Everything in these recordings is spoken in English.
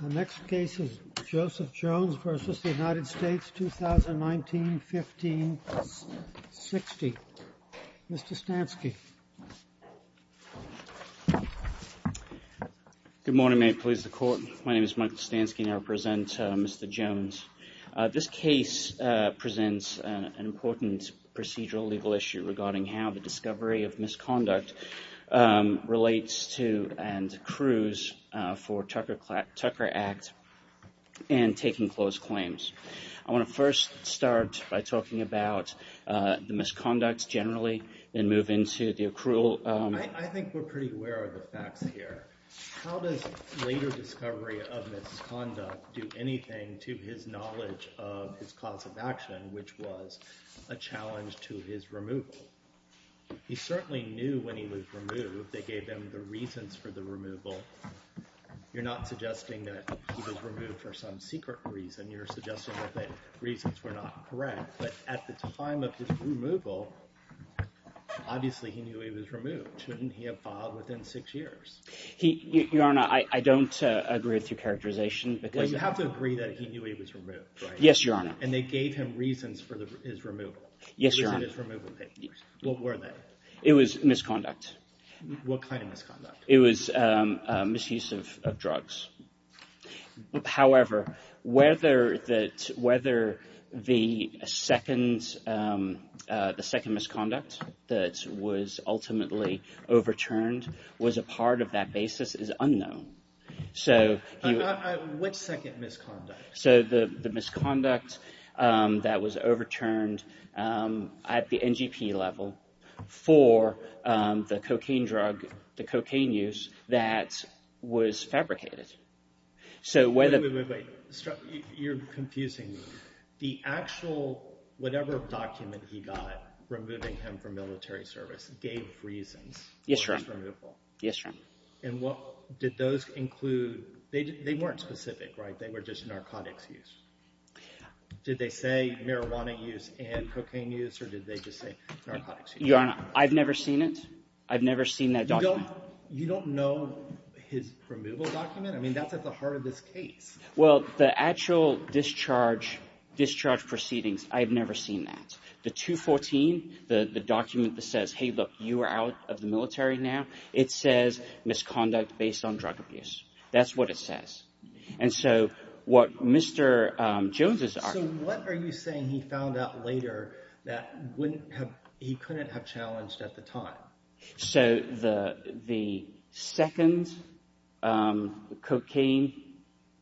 The next case is Joseph Jones v. United States, 2019-15-60. Mr. Stansky. Good morning, May it please the Court. My name is Michael Stansky and I represent Mr. Jones. This case presents an important procedural legal issue regarding how the discovery of misconduct relates to and accrues for Tucker Act and taking closed claims. I want to first start by talking about the misconduct generally and move into the accrual. I think we're pretty aware of the facts here. How does later discovery of misconduct do anything to his knowledge of his cause of action which was a challenge to his removal? He certainly knew when he was removed they gave him the reasons for the removal. You're not suggesting that he was removed for some secret reason. You're suggesting that the reasons were not correct, but at the time of his removal obviously he knew he was removed. Shouldn't he have filed within six years? Your Honor, I don't agree with your characterization. But you have to agree that he knew he was removed, right? Yes, Your Honor. And they gave him reasons for his removal. Yes, Your Honor. What were they? It was misconduct. What kind of misconduct? It was misuse of drugs. However, whether the second misconduct that was ultimately overturned was a part of that basis is unknown. What second misconduct? The misconduct that was overturned at the NGP level for the cocaine drug, the cocaine use that was fabricated. Wait, wait, wait. You're confusing me. The actual, whatever document he got removing him from military service gave reasons for his removal. Yes, Your Honor. And what did those include? They weren't specific, right? They were just narcotics use. Did they say marijuana use and cocaine use, or did they just say narcotics use? Your Honor, I've never seen it. I've never seen that document. You don't know his removal document? I mean, that's at the heart of this case. Well, the actual discharge proceedings, I've never seen that. The 214, the document that says, hey, look, you are out of the military now, it says misconduct based on drug abuse. That's what it says. And so what Mr. Jones... So what are you saying he found out later that he couldn't have challenged at the time? So the second cocaine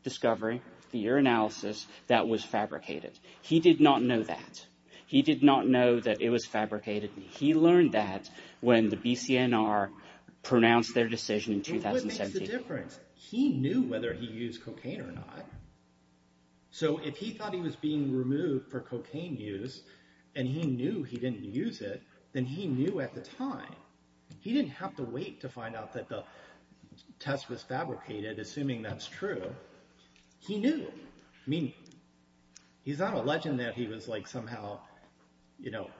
discovery, the urinalysis, that was fabricated. He did not know that. He did not know that it was fabricated. He learned that when the BCNR pronounced their decision in 2017. And what makes the difference? He knew whether he used cocaine or not. So if he thought he was being removed for cocaine use, and he knew he didn't use it, then he knew at the time. He didn't have to wait to find out that the test was fabricated, assuming that's true. He knew. I mean, he's not a legend that he was like somehow, you know,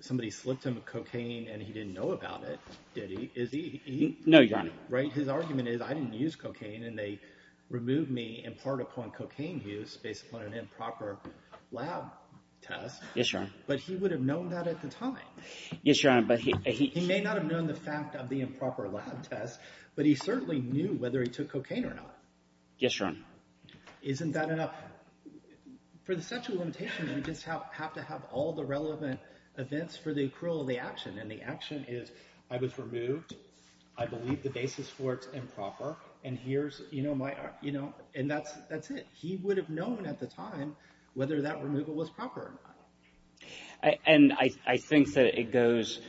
somebody slipped him a cocaine and he didn't know about it. Did he? No, Your Honor. Right? His argument is I didn't use cocaine and they removed me in part upon cocaine use based upon an improper lab test. Yes, Your Honor. But he would have known that at the time. Yes, Your Honor, but he... He may not have known the fact of the improper lab test, but he certainly knew whether he took cocaine or not. Yes, Your Honor. Isn't that enough? For the statute of limitations, you just have to have all the relevant events for the accrual of the action. And the action is I was removed. I believe the basis for it's improper. And here's, you know, my, you know, and that's it. He would have known at the time whether that removal was proper or not. And I think that it goes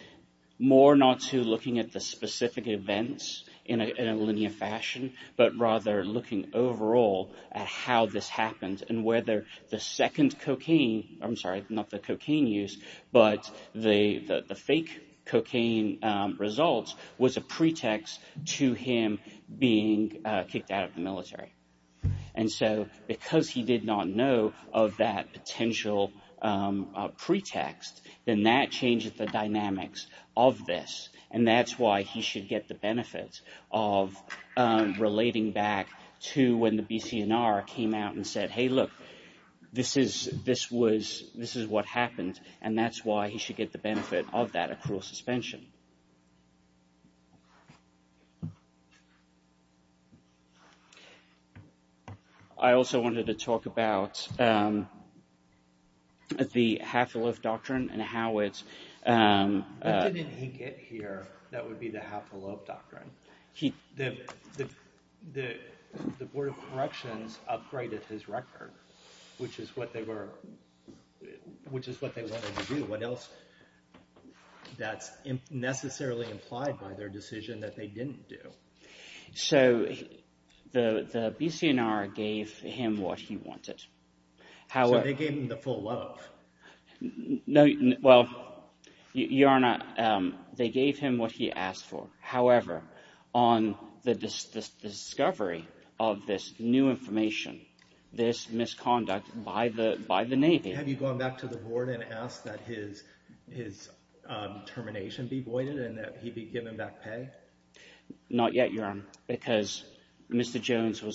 more not to looking at the specific events in a linear fashion, but rather looking overall at how this happened and whether the second cocaine, I'm sorry, not the cocaine use, but the fake cocaine results was a pretext to him being kicked out of the military. And so because he did not know of that why he should get the benefit of relating back to when the BCNR came out and said, hey, look, this is, this was, this is what happened. And that's why he should get the benefit of that accrual suspension. I also wanted to talk about the half a loaf doctrine and how it's here. That would be the half a loaf doctrine. He, the, the, the, the board of corrections upgraded his record, which is what they were, which is what they wanted to do. What else that's necessarily implied by their decision that they didn't do. So the, the BCNR gave him what he wanted. They gave him the full loaf. No, well, Your Honor, they gave him what he asked for. However, on the discovery of this new information, this misconduct by the, by the Navy. Have you gone back to the board and asked that his, his termination be voided and that he was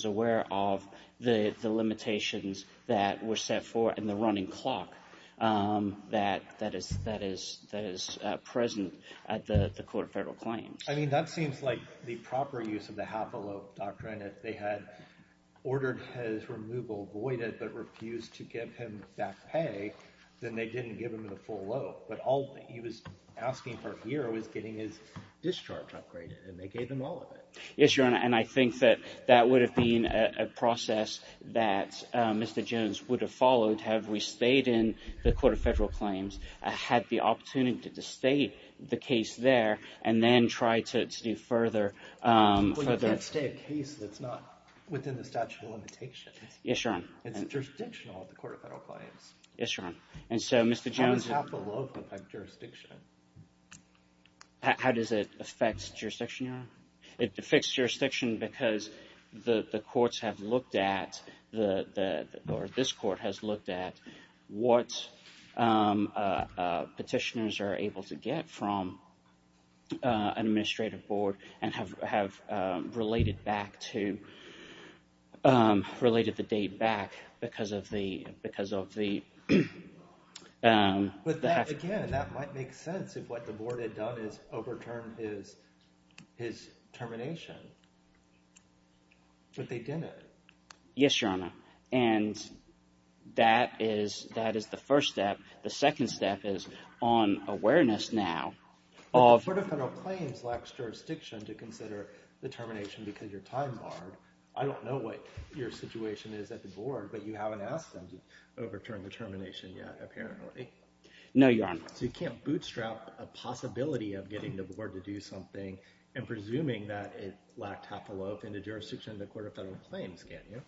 aware of the limitations that were set for, and the running clock that, that is, that is, that is present at the court of federal claims. I mean, that seems like the proper use of the half a loaf doctrine. If they had ordered his removal voided, but refused to give him that pay, then they didn't give him the full loaf. But all he was asking for here was getting his a process that Mr. Jones would have followed, have we stayed in the court of federal claims, had the opportunity to stay the case there, and then try to do further. Well, you can't stay a case that's not within the statute of limitations. Yes, Your Honor. It's jurisdictional at the court of federal claims. Yes, Your Honor. And so Mr. Jones. How does half a loaf affect jurisdiction? How, how does it affect jurisdiction, Your Honor? It affects jurisdiction because the, the courts have looked at the, the, or this court has looked at what petitioners are able to get from an administrative board and have, have related back to, related the date back because of the, because of the, the half a loaf doctrine. Again, that might make sense if what the board had done is overturned his, his termination. But they didn't. Yes, Your Honor. And that is, that is the first step. The second step is on awareness now of. The court of federal claims lacks jurisdiction to consider the termination because your time barred. I don't know what your situation is at the board, but you haven't asked them to overturn the termination yet, apparently. No, Your Honor. So you can't bootstrap a possibility of getting the board to do something and presuming that it lacked half a loaf in the jurisdiction of the court of federal claims, can you?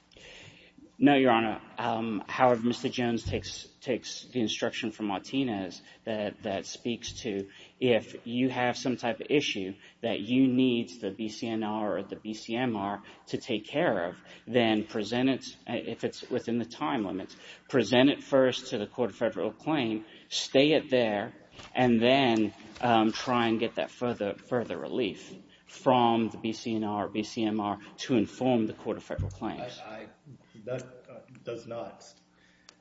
No, Your Honor. However, Mr. Jones takes, takes the instruction from Martinez that, that speaks to if you have some type of issue that you need the BCNR or the BCMR to take care of, then present it, if it's within the time limits, present it first to the court of federal claim, stay it there, and then try and get that further, further relief from the BCNR, BCMR to inform the court of federal claims. That does not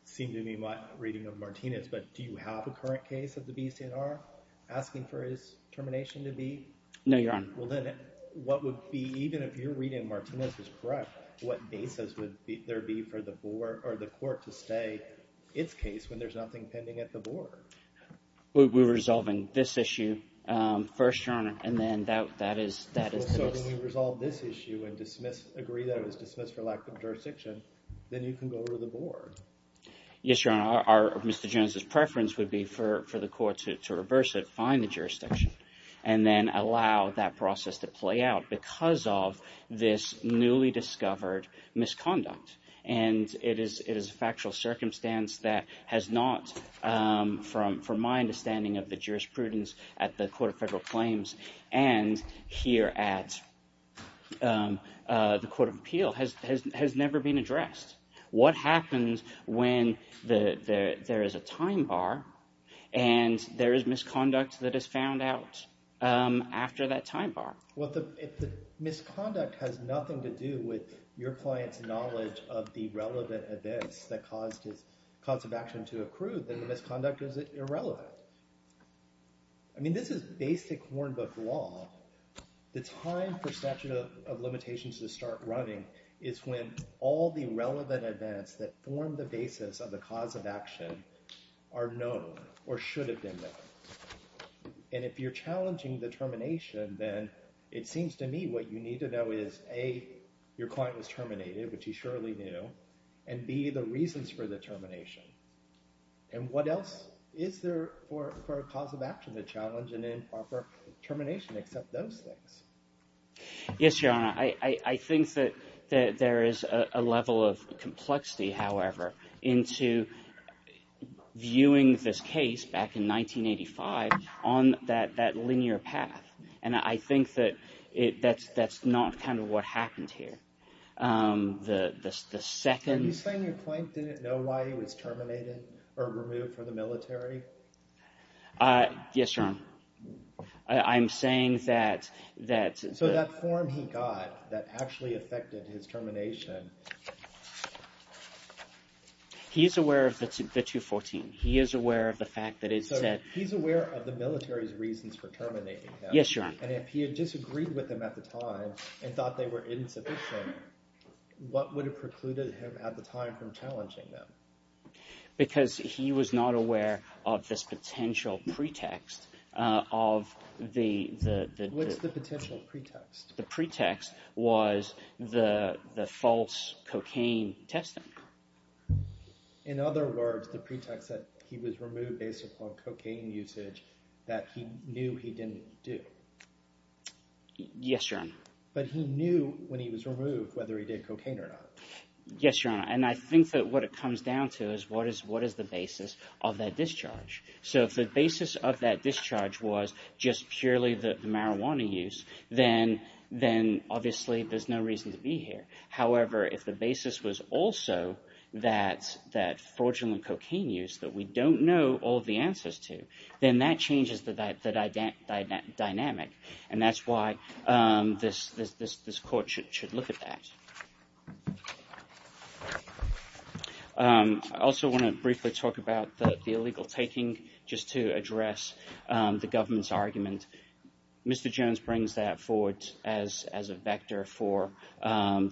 seem to be my reading of Martinez, but do you have a current case of the BCNR asking for his termination to be? No, Your Honor. Well, then what would be, even if your reading of Martinez is correct, what basis would there be for the board or the court to stay its case when there's nothing pending at the board? We're resolving this issue first, Your Honor, and then that, that is, that is. So when we resolve this issue and dismiss, agree that it was dismissed for lack of jurisdiction, then you can go to the board. Yes, Your Honor. Our, Mr. Jones's preference would be for, for the court to, to reverse it, find the jurisdiction, and then allow that process to play out because of this newly discovered misconduct. And it is, it is a factual circumstance that has not, from, from my understanding of the jurisprudence at the court of federal claims and here at the court of appeal has, has, has never been addressed. What happens when the, the, there is a time bar and there is misconduct that is found out after that time bar? Well, the, if the misconduct has nothing to do with your client's knowledge of the relevant events that caused his cause of action to accrue, then the misconduct is irrelevant. I mean, this is basic Warnbook law. The time for statute of limitations to start running is when all the relevant events that form the basis of the cause of action are known or should have been known. And if you're challenging the termination, then it seems to me what you need to know is A, your client was terminated, which he surely knew, and B, the reasons for the termination. And what else is there for, for a cause of action to challenge an improper termination except those things? Yes, Your Honor. I, I, I think that, that there is a level of complexity, however, into viewing this case back in 1985 on that, that linear path. And I think that it, that's, that's not kind of what happened here. The, the, the second. You're saying your client didn't know why he was terminated or removed from the military? Yes, Your Honor. I'm saying that, that. So that form he got that actually affected his termination. He's aware of the, the 214. He is aware of the fact that it said. He's aware of the military's reasons for terminating him. Yes, Your Honor. And if he had disagreed with them at the time and thought they were insufficient, what would have precluded him at the time from challenging them? Because he was not aware of this potential pretext of the, the. What's the potential pretext? The pretext was the, the false cocaine testing. In other words, the pretext that he was removed based upon cocaine usage that he knew he didn't do. Yes, Your Honor. But he knew when he was removed, whether he did cocaine or not. Yes, Your Honor. And I think that what it comes down to is what is, what is the basis of that discharge? So if the basis of that discharge was just purely the marijuana use, then, then obviously there's no reason to be here. However, if the basis was also that, that fraudulent cocaine use that we don't know all the answers to, then that changes the dynamic. Dynamic. And that's why this, this, this court should, should look at that. I also want to briefly talk about the illegal taking, just to address the government's argument. Mr. Jones brings that forward as, as a vector for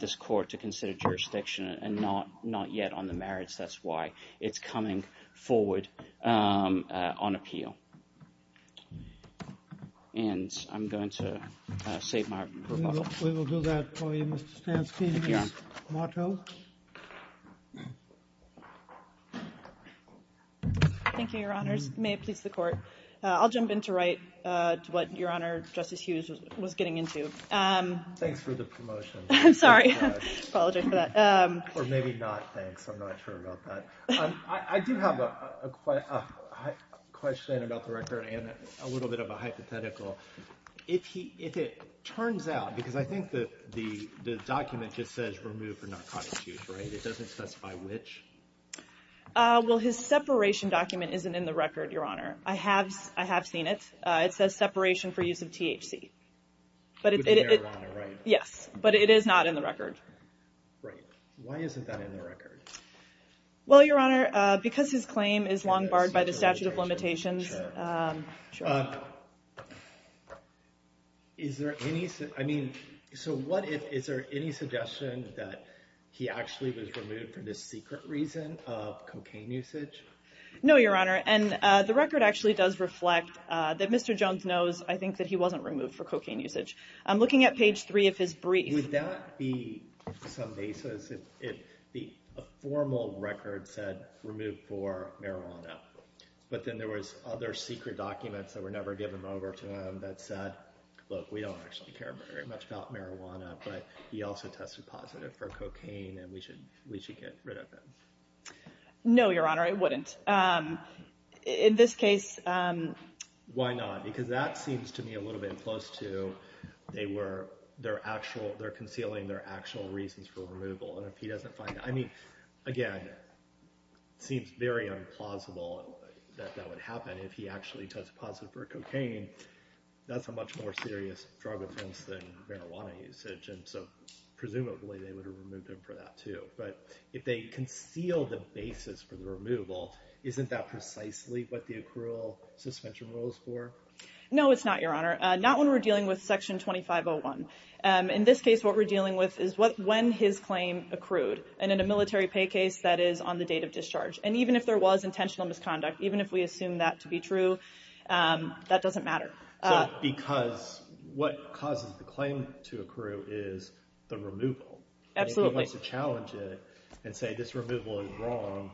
this court to consider jurisdiction and not, not yet on the merits. That's why it's coming forward on appeal. And I'm going to save my rebuttal. We will do that for you, Mr. Stansky. Thank you, Your Honors. May it please the court. I'll jump in to write what Your Honor, Justice Hughes was getting into. Thanks for the promotion. I'm sorry. Apologize for that. Or maybe not, thanks. I'm not sure about that. I do have a question about the record and a little bit of a hypothetical. If he, if it turns out, because I think that the, the document just says remove for narcotics use, right? It doesn't specify which? Well, his separation document isn't in the record, Your Honor. I have, I have seen it. It says separation for use of THC. But it, it, it, yes, but it is not in the record. Right. Why isn't that in the record? Well, Your Honor, because his claim is long barred by the statute of limitations. Is there any, I mean, so what if, is there any suggestion that he actually was removed for this secret reason of cocaine usage? No, Your Honor. And the record actually does reflect that Mr. Jones knows, I think, that he wasn't removed for cocaine usage. I'm looking at page three of his brief. Would that be some basis if the, a formal record said remove for marijuana, but then there was other secret documents that were never given over to him that said, look, we don't actually care very much about marijuana, but he also tested positive for cocaine and we should, we should get rid of him. No, Your Honor, I wouldn't. In this case. Why not? Because that seems to me a little bit close to they were, they're actual, they're concealing their actual reasons for removal. And if he doesn't find, I mean, again, it seems very implausible that that would happen if he actually tested positive for cocaine. That's a much more serious drug offense than marijuana usage. And so presumably they would have removed him for that too. But if they conceal the basis for the removal, isn't that precisely what the accrual suspension rules for? No, it's not, Your Honor. Not when we're dealing with section 2501. In this case, what we're dealing with is when his claim accrued and in a military pay case that is on the date of discharge. And even if there was intentional misconduct, even if we assume that to be true, that doesn't matter. Because what causes the claim to accrue is the removal. Absolutely. If he wants to challenge it and say this removal is wrong,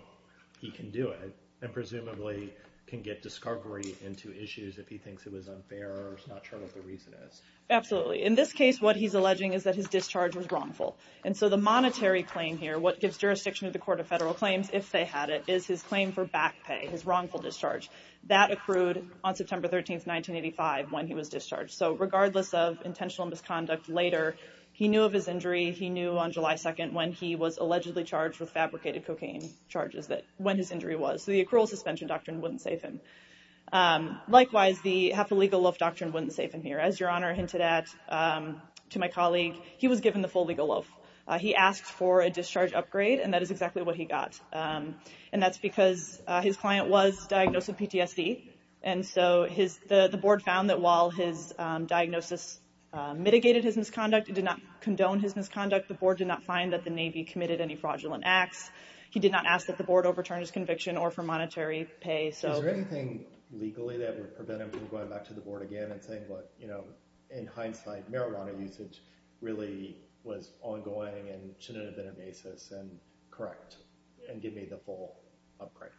he can do it. And presumably can get discovery into issues if he thinks it was unfair or is not sure what the reason is. Absolutely. In this case, what he's alleging is that his discharge was wrongful. And so the monetary claim here, what gives jurisdiction to the Court of Federal Claims if they had it, is his claim for back pay, his wrongful discharge. That accrued on September 13th, 1985 when he was discharged. So regardless of intentional misconduct later, he knew of his injury. He knew on July 2nd when he was allegedly charged with fabricated cocaine charges that when his injury was. The accrual suspension doctrine wouldn't save him. Likewise, the half a legal loaf doctrine wouldn't save him here. As Your Honor hinted at to my colleague, he was given the full legal loaf. He asked for a discharge upgrade and that is exactly what he got. And that's because his client was diagnosed with PTSD. And so the board found that while his diagnosis mitigated his misconduct, it did not condone his misconduct. The board did not find that the Navy committed any fraudulent acts. He did not ask that the board overturn his conviction or for monetary pay. So is there anything legally that would prevent him from going back to the board again and saying, well, you know, in hindsight, marijuana usage really was ongoing and shouldn't have been a basis and correct and give me the full upgrade?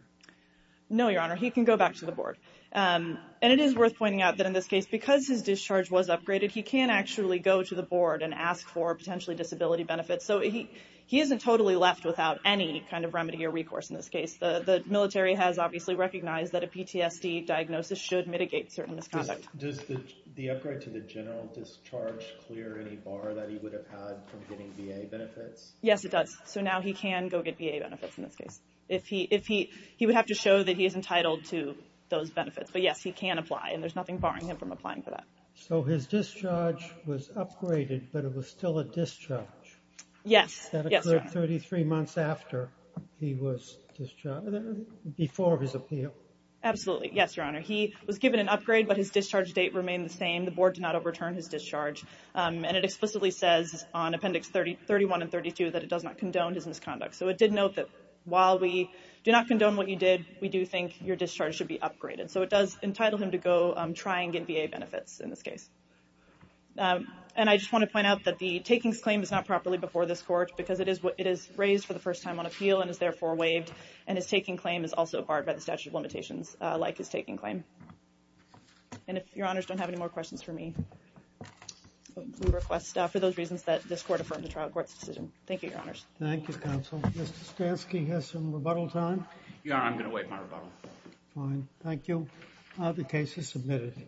No, Your Honor, he can go back to the board. And it is worth pointing out that in this case, because his discharge was upgraded, he can actually go to the board and ask for potentially disability benefits. He isn't totally left without any kind of remedy or recourse in this case. The military has obviously recognized that a PTSD diagnosis should mitigate certain misconduct. Does the upgrade to the general discharge clear any bar that he would have had from getting VA benefits? Yes, it does. So now he can go get VA benefits in this case. He would have to show that he is entitled to those benefits. But yes, he can apply and there's nothing barring him from applying for that. So his discharge was upgraded, but it was still a discharge. Yes. That occurred 33 months after he was discharged, before his appeal. Absolutely. Yes, Your Honor. He was given an upgrade, but his discharge date remained the same. The board did not overturn his discharge. And it explicitly says on Appendix 31 and 32 that it does not condone his misconduct. So it did note that while we do not condone what you did, we do think your discharge should be upgraded. So it does entitle him to go try and get VA benefits in this case. And I just want to point out that the takings claim is not properly before this court because it is raised for the first time on appeal and is therefore waived. And his taking claim is also barred by the statute of limitations like his taking claim. And if Your Honors don't have any more questions for me, we request for those reasons that this court affirmed the trial court's decision. Thank you, Your Honors. Thank you, counsel. Mr. Stansky has some rebuttal time. Your Honor, I'm going to waive my rebuttal. Fine. Thank you. The case is submitted. Thank you.